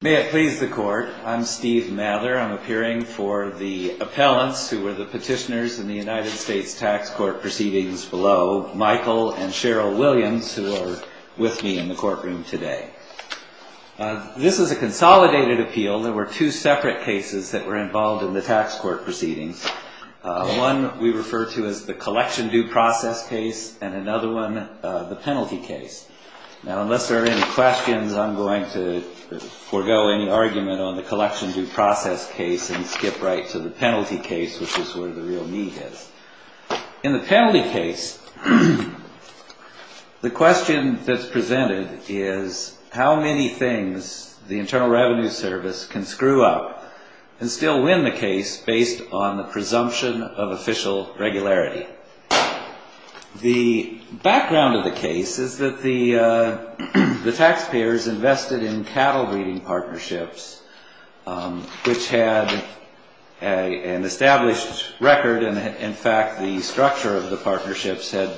May it please the court. I'm Steve Mather. I'm appearing for the appellants who were the petitioners in the United States Tax Court proceedings below, Michael and Cheryl Williams, who are with me in the courtroom today. This is a consolidated appeal. There were two separate cases that were involved in the tax court proceedings. One we refer to as the collection due process case and another one, the penalty case. Now, unless there are any questions, I'm going to forego any argument on the collection due process case and skip right to the penalty case, which is where the real need is. In the penalty case, the question that's presented is how many things the Internal Revenue Service can screw up and still win the case based on the presumption of official regularity. The background of the case is that the taxpayers invested in cattle breeding partnerships, which had an established record and, in fact, the structure of the partnerships had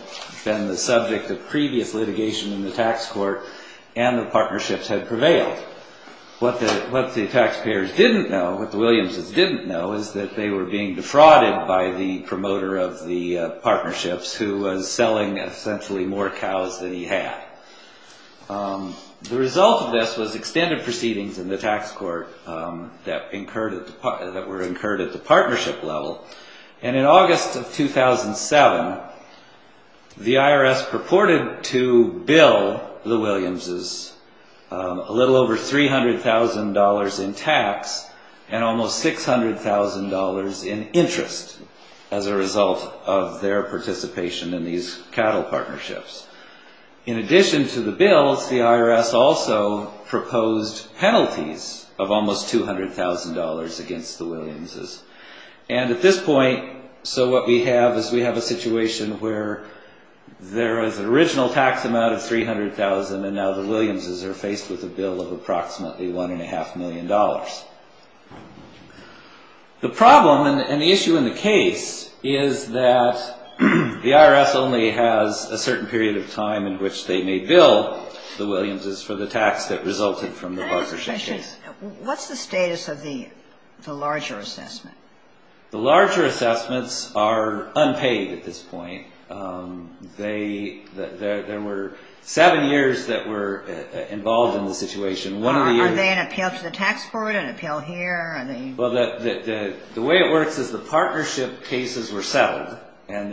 been the subject of previous litigation in the tax court and the partnerships had prevailed. What the taxpayers didn't know, what the Williams' didn't know, is that they were being defrauded by the promoter of the partnerships, who was selling essentially more cows than he had. The result of this was extended proceedings in the tax court that were incurred at the partnership level. In August of 2007, the IRS purported to bill the Williams' a little over $300,000 in tax and almost $600,000 in interest as a result of their participation in these cattle partnerships. In addition to the bills, the IRS also proposed penalties of almost $200,000 against the Williams'. And at this point, so what we have is we have a situation where there is an original tax amount of $300,000 and now the Williams' are faced with a bill of approximately $1.5 million. The problem and the issue in the case is that the IRS only has a certain period of time in which they may bill the Williams' for the tax that resulted from the partnership case. What's the status of the larger assessment? The larger assessments are unpaid at this point. There were seven years that were involved in the situation. Are they an appeal to the tax court, an appeal here? Well, the way it works is the partnership cases were settled and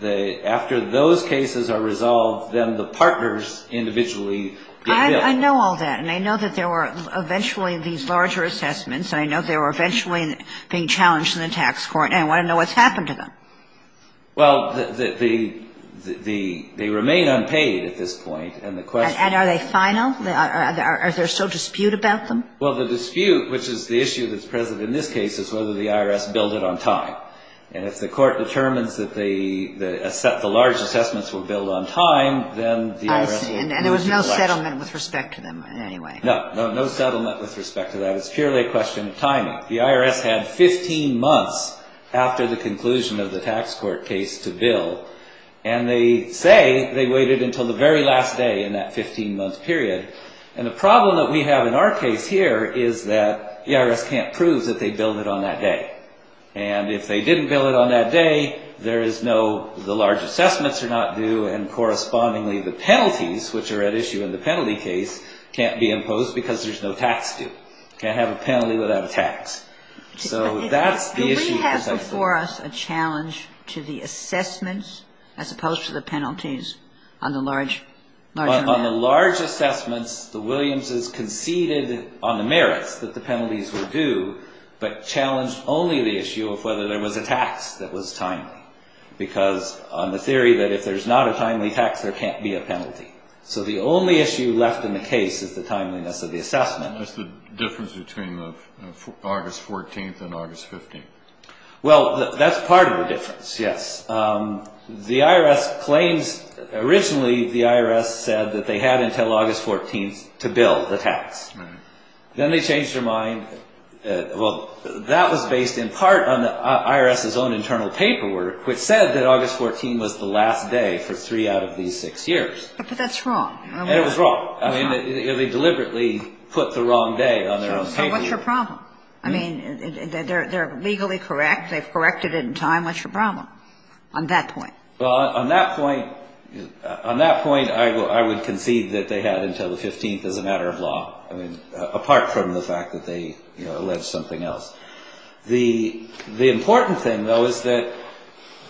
then after those cases are resolved, then the partners individually get billed. I know all that and I know that there were eventually these larger assessments and I know they were eventually being challenged in the tax court and I want to know what's happened to them. Well, the they remain unpaid at this point and the question And are they final? Are there still dispute about them? Well, the dispute, which is the issue that's present in this case, is whether the IRS billed it on time. And if the court determines that the large assessments were billed on time, then the IRS will There's no settlement with respect to them in any way? No, no settlement with respect to that. It's purely a question of timing. The IRS had 15 months after the conclusion of the tax court case to bill and they say they waited until the very last day in that 15-month period. And the problem that we have in our case here is that the IRS can't prove that they billed it on that day. And if they didn't bill it on that day, there is no, the large assessments are not due and correspondingly the penalties, which are at issue in the penalty case, can't be imposed because there's no tax due. Can't have a penalty without a tax. So that's the issue. Do we have before us a challenge to the assessments as opposed to the penalties on the large, large amount? The Williams' conceded on the merits that the penalties were due, but challenged only the issue of whether there was a tax that was timely. Because on the theory that if there's not a timely tax, there can't be a penalty. So the only issue left in the case is the timeliness of the assessment. And that's the difference between August 14th and August 15th. Well, that's part of the difference, yes. The IRS claims originally the IRS said that they had until August 14th to bill the tax. Then they changed their mind. Well, that was based in part on the IRS's own internal paperwork, which said that August 14th was the last day for three out of these six years. But that's wrong. It was wrong. I mean, they deliberately put the wrong day on their own paperwork. So what's your problem? I mean, they're legally correct. They've corrected it in time. What's your problem on that point? Well, on that point, I would concede that they had until the 15th as a matter of law, apart from the fact that they, you know, alleged something else. The important thing, though, is that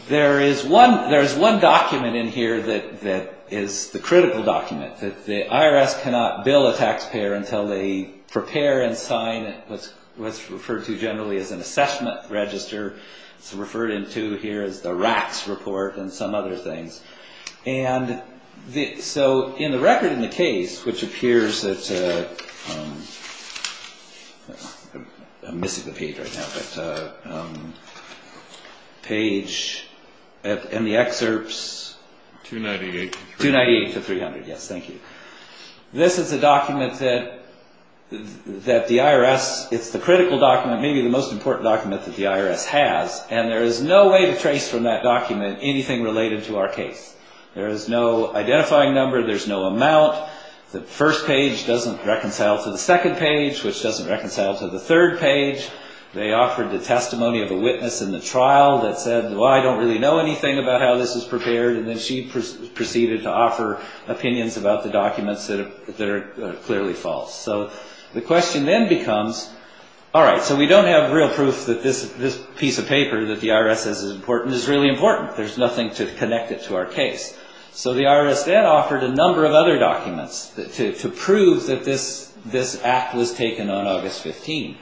there is one document in here that is the critical document, that the IRS cannot bill a taxpayer until they prepare and sign what's referred to generally as an assessment register. It's referred to here as the RACS report and some other things. And so in the record in the case, which appears at, I'm missing the page right now, but page and the excerpts. 298 to 300. 298 to 300. Yes, thank you. This is a document that the IRS, it's the critical document, maybe the most important document that the IRS has. And there is no way to trace from that document anything related to our case. There is no identifying number. There's no amount. The first page doesn't reconcile to the second page, which doesn't reconcile to the third page. They offered the testimony of a witness in the trial that said, well, I don't really know anything about how this is prepared. And then she proceeded to offer opinions about the documents that are clearly false. So the question then becomes, all right, so we don't have real proof that this piece of paper that the IRS says is important is really important. There's nothing to connect it to our case. So the IRS then offered a number of other documents to prove that this act was taken on August 15.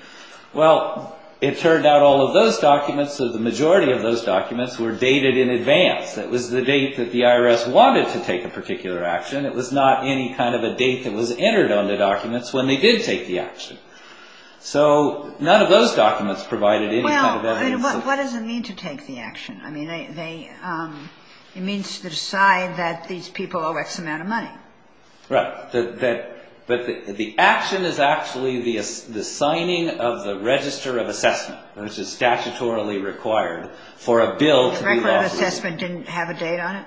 Well, it turned out all of those documents or the majority of those documents were dated in advance. That was the date that the IRS wanted to take a particular action. It was not any kind of a date that was entered on the documents when they did take the action. So none of those documents provided any kind of evidence. Well, what does it mean to take the action? I mean, it means to decide that these people owe X amount of money. Right. But the action is actually the signing of the register of assessment, which is statutorily required for a bill to be offered. The register of assessment didn't have a date on it?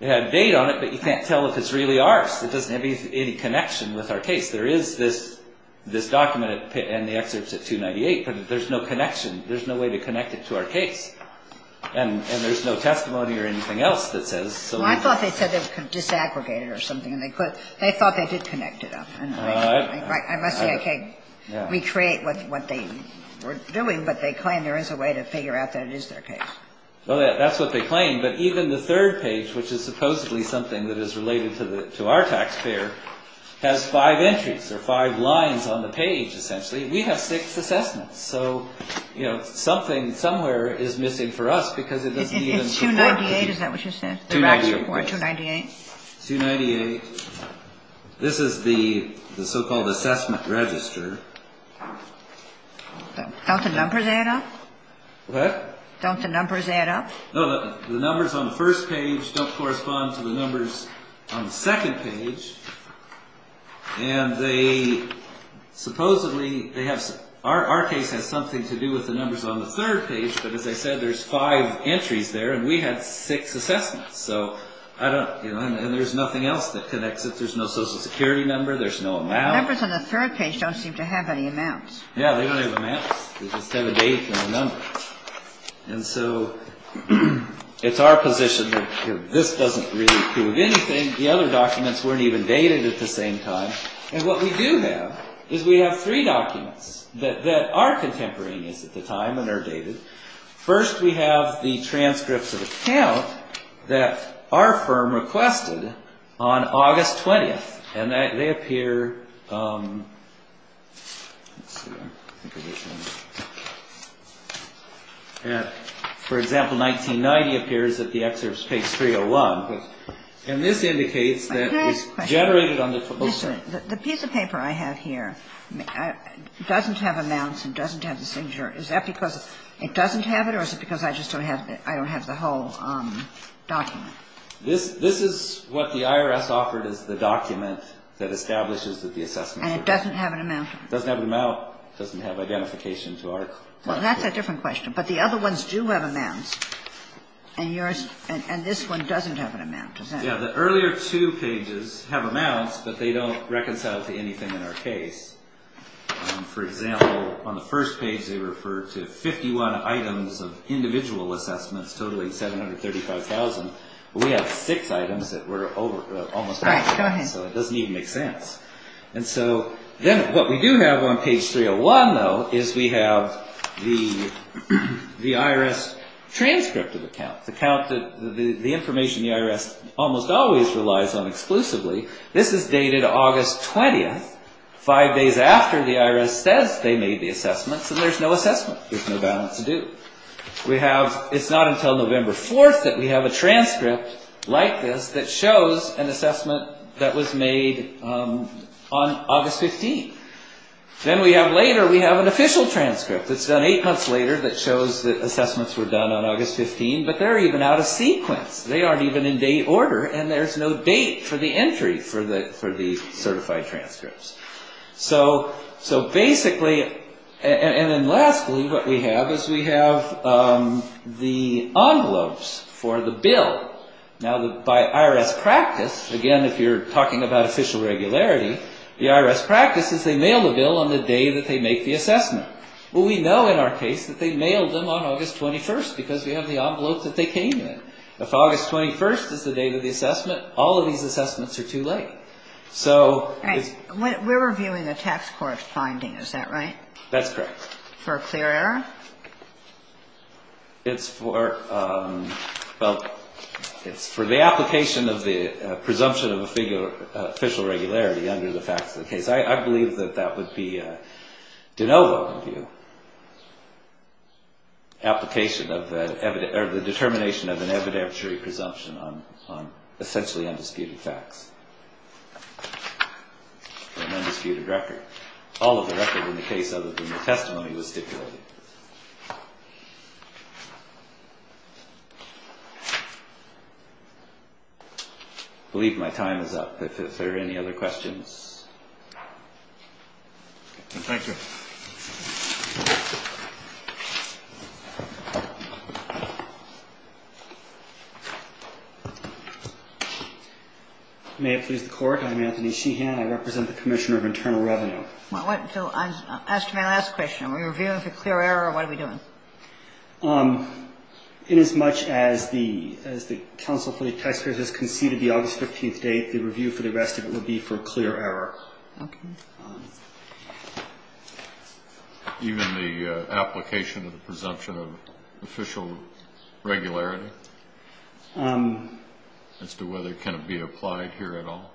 It had a date on it, but you can't tell if it's really ours. It doesn't have any connection with our case. There is this document and the excerpts at 298, but there's no connection. There's no way to connect it to our case. And there's no testimony or anything else that says so. Well, I thought they said they disaggregated it or something. They thought they did connect it up. I must say I can't recreate what they were doing, but they claim there is a way to figure out that it is their case. Well, that's what they claim. But even the third page, which is supposedly something that is related to our taxpayer, has five entries or five lines on the page, essentially. We have six assessments. So, you know, something somewhere is missing for us because it doesn't even. It's 298. Is that what you said? 298. 298. This is the so-called assessment register. Don't the numbers add up? What? Don't the numbers add up? No, the numbers on the first page don't correspond to the numbers on the second page. And they supposedly, they have, our case has something to do with the numbers on the third page. But as I said, there's five entries there and we had six assessments. So I don't, you know, and there's nothing else that connects it. There's no Social Security number. There's no amount. The numbers on the third page don't seem to have any amounts. Yeah, they don't have amounts. They just have a date and a number. And so it's our position that this doesn't really prove anything. The other documents weren't even dated at the same time. And what we do have is we have three documents that are contemporaneous at the time and are dated. First, we have the transcripts of account that our firm requested on August 20th. And they appear, let's see, for example, 1990 appears that the excerpt takes 301. And this indicates that it's generated on the. The piece of paper I have here doesn't have amounts and doesn't have the signature. Is that because it doesn't have it or is it because I just don't have, I don't have the whole document? This is what the IRS offered as the document that establishes that the assessment. And it doesn't have an amount? It doesn't have an amount. It doesn't have identification to our. Well, that's a different question. But the other ones do have amounts. And this one doesn't have an amount, does it? Yeah, the earlier two pages have amounts, but they don't reconcile to anything in our case. For example, on the first page they refer to 51 items of individual assessments totaling 735,000. We have six items that we're almost out of. So it doesn't even make sense. And so then what we do have on page 301, though, is we have the IRS transcript of accounts, the information the IRS almost always relies on exclusively. This is dated August 20th, five days after the IRS says they made the assessments, and there's no assessment. There's no balance to do. It's not until November 4th that we have a transcript like this that shows an assessment that was made on August 15th. Then later we have an official transcript that's done eight months later that shows that assessments were done on August 15th, but they're even out of sequence. They aren't even in date order, and there's no date for the entry for the certified transcripts. So basically, and then lastly, what we have is we have the envelopes for the bill. Now, by IRS practice, again, if you're talking about official regularity, the IRS practice is they mail the bill on the day that they make the assessment. Well, we know in our case that they mailed them on August 21st because we have the envelope that they came in. If August 21st is the date of the assessment, all of these assessments are too late. We're reviewing a tax court finding, is that right? That's correct. For a clear error? It's for the application of the presumption of official regularity under the facts of the case. I believe that that would be de novo in view, application of the determination of an evidentiary presumption on essentially undisputed facts. An undisputed record. All of the record in the case other than the testimony was stipulated. I believe my time is up. If there are any other questions. Thank you. May it please the Court. I'm Anthony Sheehan. I represent the Commissioner of Internal Revenue. I asked you my last question. Are we reviewing for clear error or what are we doing? Inasmuch as the council for the taxpayers has conceded the August 15th date, the review for the rest of it would be for clear error. Okay. Even the application of the presumption of official regularity? As to whether it can be applied here at all?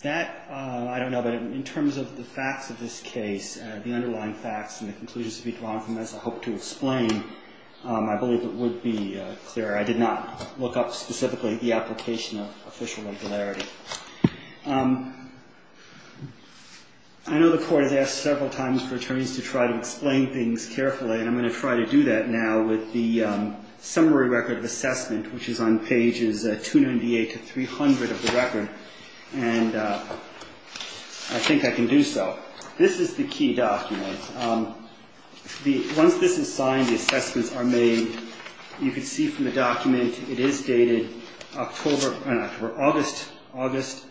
That, I don't know, but in terms of the facts of this case, the underlying facts and the conclusions to be drawn from this I hope to explain. I believe it would be clear. I did not look up specifically the application of official regularity. I know the Court has asked several times for attorneys to try to explain things carefully, and I'm going to try to do that now with the summary record of assessment, which is on pages 298 to 300 of the record, and I think I can do so. This is the key document. Once this is signed, the assessments are made. And you can see from the document it is dated October or August, August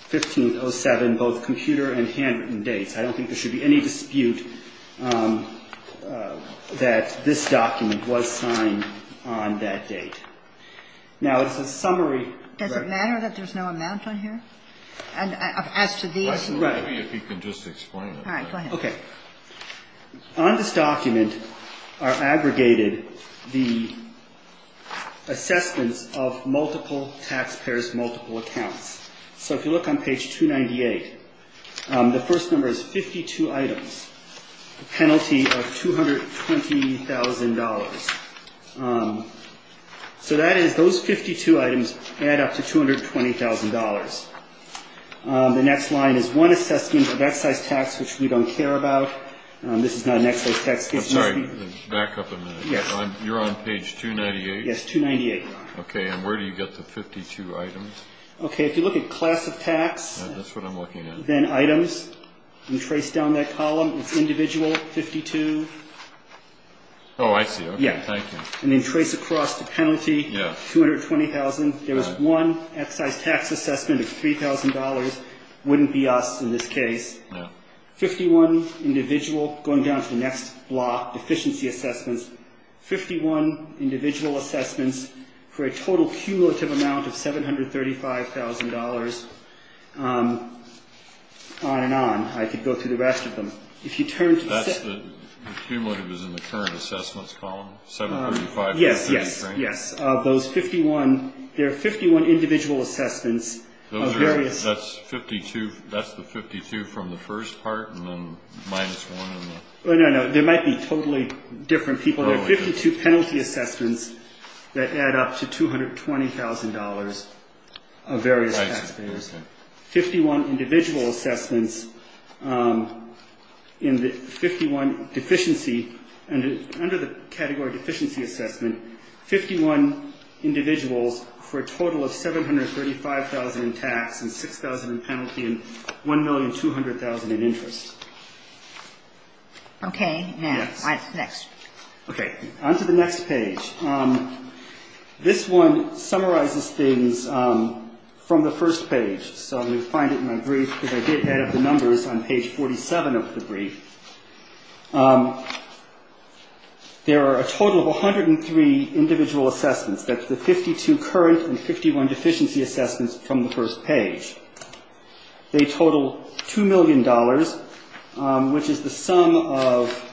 15, 07, both computer and handwritten dates. I don't think there should be any dispute that this document was signed on that date. Now, it's a summary record. Does it matter that there's no amount on here? As to these? Right. Maybe if you could just explain it. All right. Go ahead. Okay. On this document are aggregated the assessments of multiple taxpayers' multiple accounts. So if you look on page 298, the first number is 52 items, penalty of $220,000. So that is those 52 items add up to $220,000. The next line is one assessment of excise tax, which we don't care about. This is not an excise tax case. I'm sorry. Back up a minute. Yes. You're on page 298? Yes, 298. Okay. And where do you get the 52 items? Okay. If you look at class of tax. That's what I'm looking at. Then items. You trace down that column. It's individual, 52. Oh, I see. Okay. Thank you. And then trace across the penalty, 220,000. There was one excise tax assessment of $3,000. It wouldn't be us in this case. No. Fifty-one individual, going down to the next block, efficiency assessments. Fifty-one individual assessments for a total cumulative amount of $735,000. On and on. I could go through the rest of them. If you turn to the second. The cumulative is in the current assessments column? $735,000? Yes. Yes. Those 51, there are 51 individual assessments of various. That's 52. That's the 52 from the first part, and then minus one. No, no, no. There might be totally different people. There are 52 penalty assessments that add up to $220,000 of various taxpayers. Right. Okay. Fifty-one individual assessments in the 51 deficiency, under the category deficiency assessment, 51 individuals for a total of $735,000 in tax and $6,000 in penalty and $1,200,000 in interest. Okay. Next. Okay. On to the next page. This one summarizes things from the first page. So you'll find it in my brief, because I did add up the numbers on page 47 of the brief. There are a total of 103 individual assessments. That's the 52 current and 51 deficiency assessments from the first page. They total $2 million, which is the sum of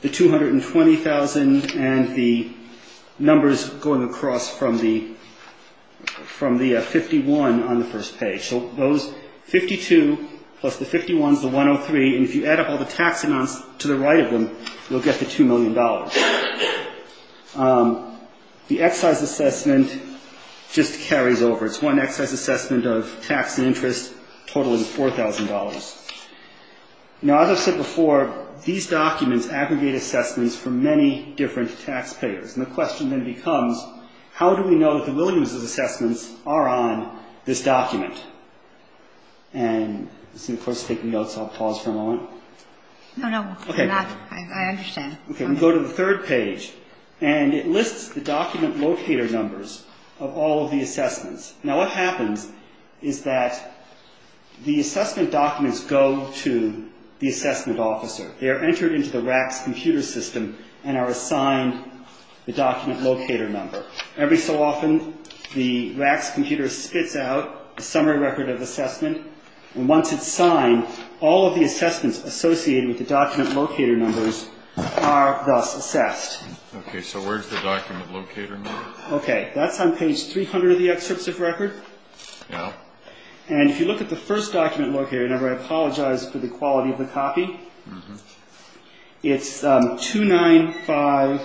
the $220,000 and the numbers going across from the 51 on the first page. So those 52 plus the 51 is the 103, and if you add up all the tax amounts to the right of them, you'll get the $2 million. The excise assessment just carries over. It's one excise assessment of tax and interest totaling $4,000. Now, as I've said before, these documents aggregate assessments for many different taxpayers, and the question then becomes, how do we know that the Williams' assessments are on this document? And this is, of course, taking notes, so I'll pause for a moment. No, no. Okay. I understand. Okay. We go to the third page, and it lists the document locator numbers of all of the assessments. Now, what happens is that the assessment documents go to the assessment officer. They are entered into the RACS computer system and are assigned the document locator number. Every so often, the RACS computer spits out a summary record of assessment, and once it's signed, all of the assessments associated with the document locator numbers are thus assessed. Okay. So where's the document locator number? Okay. That's on page 300 of the excerpt of record. Yeah. And if you look at the first document locator number, I apologize for the quality of the copy. Mm-hmm. It's 295-122-7134.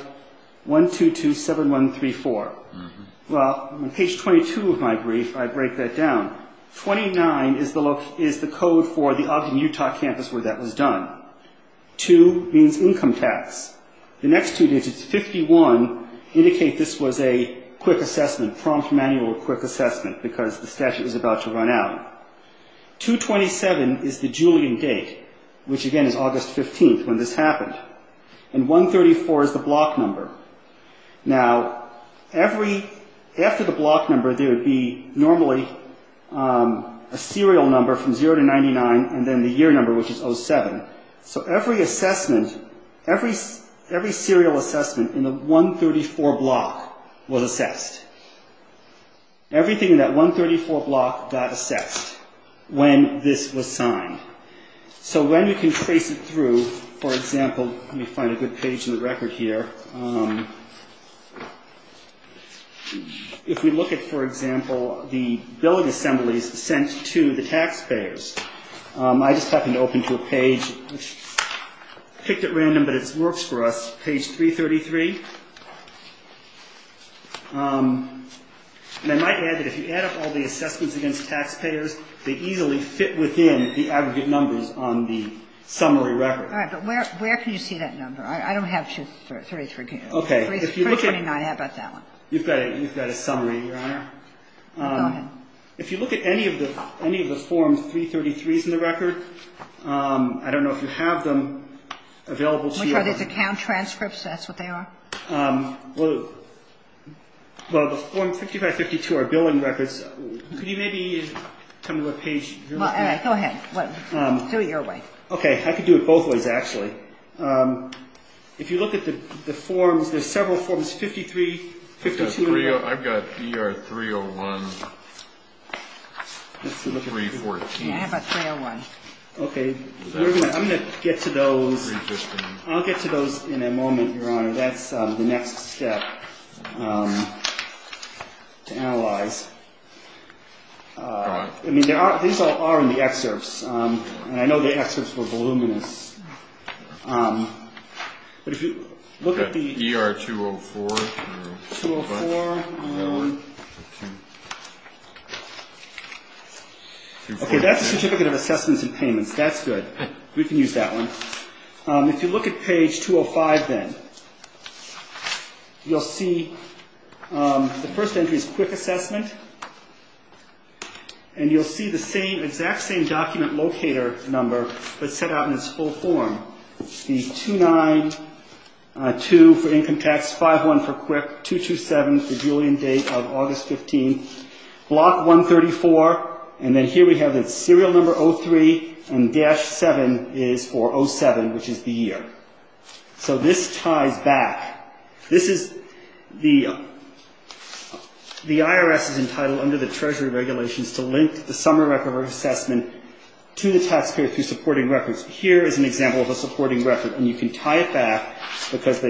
Mm-hmm. Well, on page 22 of my brief, I break that down. Twenty-nine is the code for the Ogden, Utah, campus where that was done. Two means income tax. The next two digits, 51, indicate this was a quick assessment, prompt manual quick assessment, because the statute was about to run out. 227 is the Julian date, which, again, is August 15th when this happened. And 134 is the block number. Now, after the block number, there would be normally a serial number from 0 to 99, and then the year number, which is 07. So every assessment, every serial assessment in the 134 block was assessed. Everything in that 134 block got assessed when this was signed. So when we can trace it through, for example, let me find a good page in the record here. If we look at, for example, the billing assemblies sent to the taxpayers, I just happened to open to a page. I picked it random, but it works for us. Page 333. And I might add that if you add up all the assessments against taxpayers, they easily fit within the aggregate numbers on the summary record. All right. But where can you see that number? I don't have 33. Okay. 329. How about that one? You've got a summary, Your Honor. Go ahead. If you look at any of the forms, 333 is in the record. I don't know if you have them available to you. Which are these account transcripts? That's what they are? Well, the form 5552 are billing records. Could you maybe come to a page? All right. Go ahead. Do it your way. Okay. I could do it both ways, actually. If you look at the forms, there's several forms, 53, 52. I've got ER 301, 314. Yeah, I have a 301. Okay. I'm going to get to those. I'll get to those in a moment, Your Honor. That's the next step to analyze. I mean, these all are in the excerpts, and I know the excerpts were voluminous. But if you look at the ER 204. 204. Okay, that's the certificate of assessments and payments. That's good. We can use that one. If you look at page 205, then, you'll see the first entry is quick assessment, and you'll see the exact same document locator number, but set out in its full form. It's the 292 for income tax, 51 for quick, 227 for Julian date of August 15, block 134, and then here we have the serial number 03, and dash 7 is for 07, which is the year. So this ties back. This is the IRS's entitlement under the Treasury regulations to link the summary record of assessment to the taxpayer through supporting records. Here is an example of a supporting record, and you can tie it back because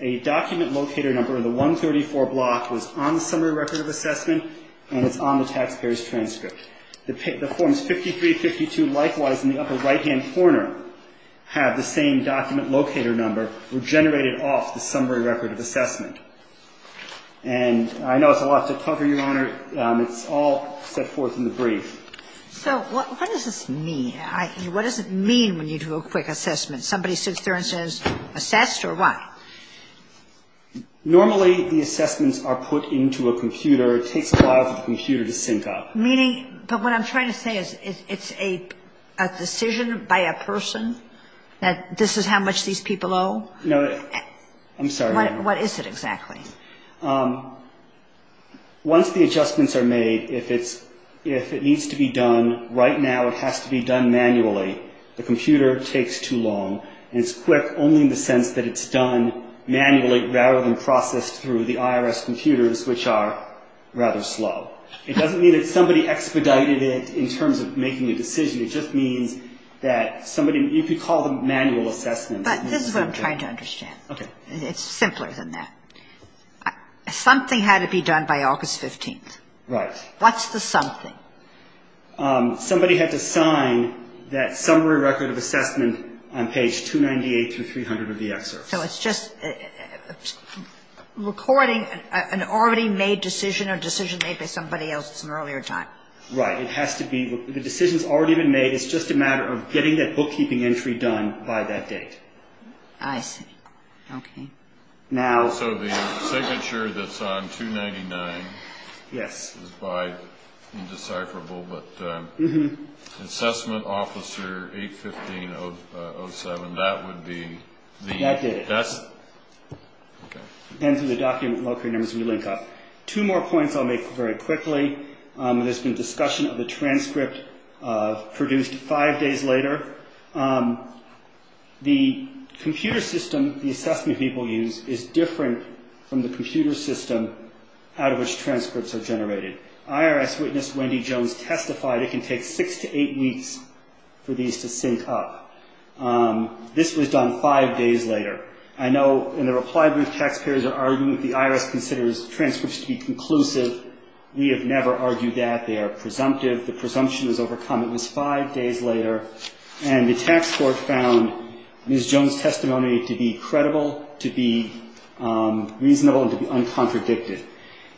a document locator number of the 134 block was on the summary record of assessment, and it's on the taxpayer's transcript. The forms 53, 52, likewise, in the upper right-hand corner, have the same document locator number generated off the summary record of assessment. And I know it's a lot to cover, Your Honor. It's all set forth in the brief. So what does this mean? What does it mean when you do a quick assessment? Somebody sits there and says, assessed, or what? Normally, the assessments are put into a computer. It takes a while for the computer to sync up. Meaning, but what I'm trying to say is it's a decision by a person that this is how much these people owe? No, I'm sorry, Your Honor. What is it exactly? Once the adjustments are made, if it's, if it needs to be done right now, it has to be done manually. The computer takes too long, and it's quick only in the sense that it's done manually rather than processed through the IRS computers, which are rather slow. It doesn't mean that somebody expedited it in terms of making a decision. It just means that somebody, you could call them manual assessments. But this is what I'm trying to understand. Okay. It's simpler than that. Something had to be done by August 15th. Right. What's the something? Somebody had to sign that summary record of assessment on page 298 through 300 of the excerpt. So it's just recording an already made decision or decision made by somebody else at some earlier time. Right. It has to be, the decision's already been made. It's just a matter of getting that bookkeeping entry done by that date. I see. Okay. Now. So the signature that's on 299. Yes. Is by, indecipherable, but assessment officer 815-07, that would be the. That did it. That's. Okay. Depends on the document and local numbers we link up. Two more points I'll make very quickly. There's been discussion of a transcript produced five days later. The computer system the assessment people use is different from the computer system out of which transcripts are generated. IRS witness Wendy Jones testified it can take six to eight weeks for these to sync up. This was done five days later. I know in the reply brief taxpayers are arguing that the IRS considers transcripts to be conclusive. We have never argued that. They are presumptive. The presumption is overcome. It was five days later. And the tax court found Ms. Jones' testimony to be credible, to be reasonable, and to be uncontradicted.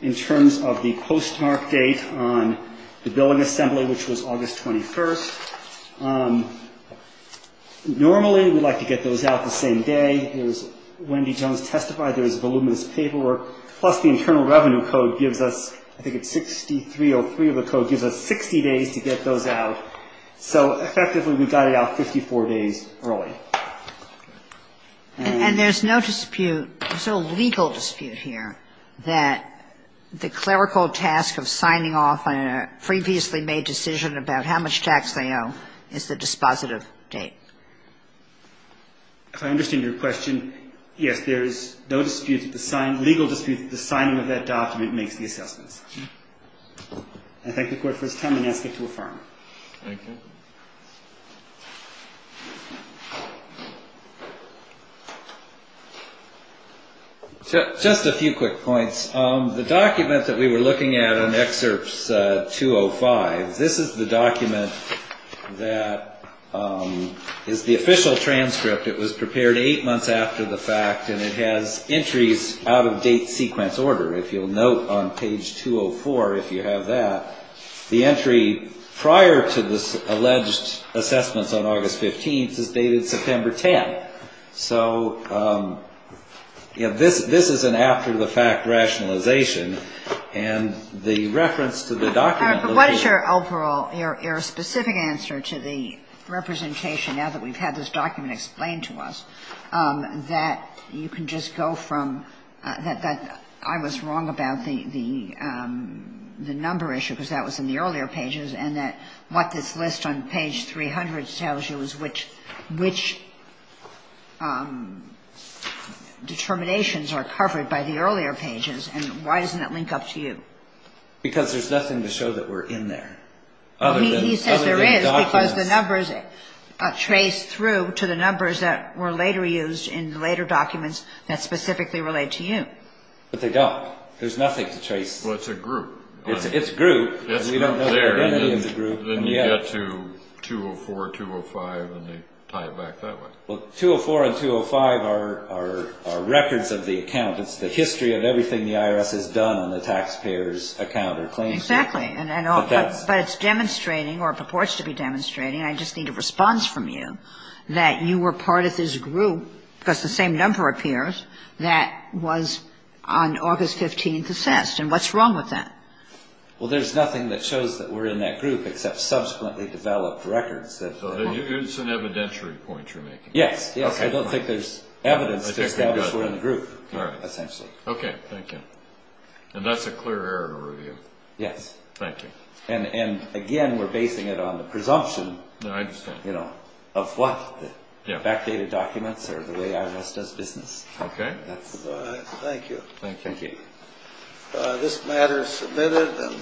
In terms of the postmark date on the billing assembly, which was August 21st, normally we'd like to get those out the same day. There's Wendy Jones testified there's voluminous paperwork. Plus the Internal Revenue Code gives us, I think it's 6303 of the code, gives us 60 days to get those out. So effectively we got it out 54 days early. And there's no dispute. There's no legal dispute here that the clerical task of signing off on a previously made decision about how much tax they owe is the dispositive date. If I understand your question, yes, there's no dispute, legal dispute that the signing of that document makes the assessments. I thank the Court for its time and ask it to affirm. Thank you. Just a few quick points. The document that we were looking at on Excerpts 205, this is the document that is the official transcript. It was prepared eight months after the fact, and it has entries out of date sequence order. If you'll note on page 204, if you have that, the entry prior to this alleged assessments on August 15th is dated September 10th. So, you know, this is an after-the-fact rationalization, and the reference to the document. But what is your overall, your specific answer to the representation, now that we've had this document explained to us, that you can just go from that I was wrong about the number issue, because that was in the earlier pages, and that what this list on page 300 tells you is which determinations are covered by the earlier pages. And why doesn't that link up to you? Because there's nothing to show that we're in there. He says there is, because the numbers trace through to the numbers that were later used in the later documents that specifically relate to you. But they don't. There's nothing to trace. Well, it's a group. It's a group. It's a group there. Then you get to 204, 205, and they tie it back that way. Well, 204 and 205 are records of the account. It's the history of everything the IRS has done on the taxpayer's account or claims. Exactly. But it's demonstrating, or purports to be demonstrating, I just need a response from you, that you were part of this group, because the same number appears, that was on August 15th assessed. And what's wrong with that? Well, there's nothing that shows that we're in that group except subsequently developed records. So it's an evidentiary point you're making. Yes. I don't think there's evidence to establish we're in the group, essentially. Okay. Thank you. And that's a clear error to review. Yes. Thank you. And, again, we're basing it on the presumption, you know, of what? The backdated documents or the way the IRS does business. Okay. Thank you. Thank you. Okay. This matter is submitted.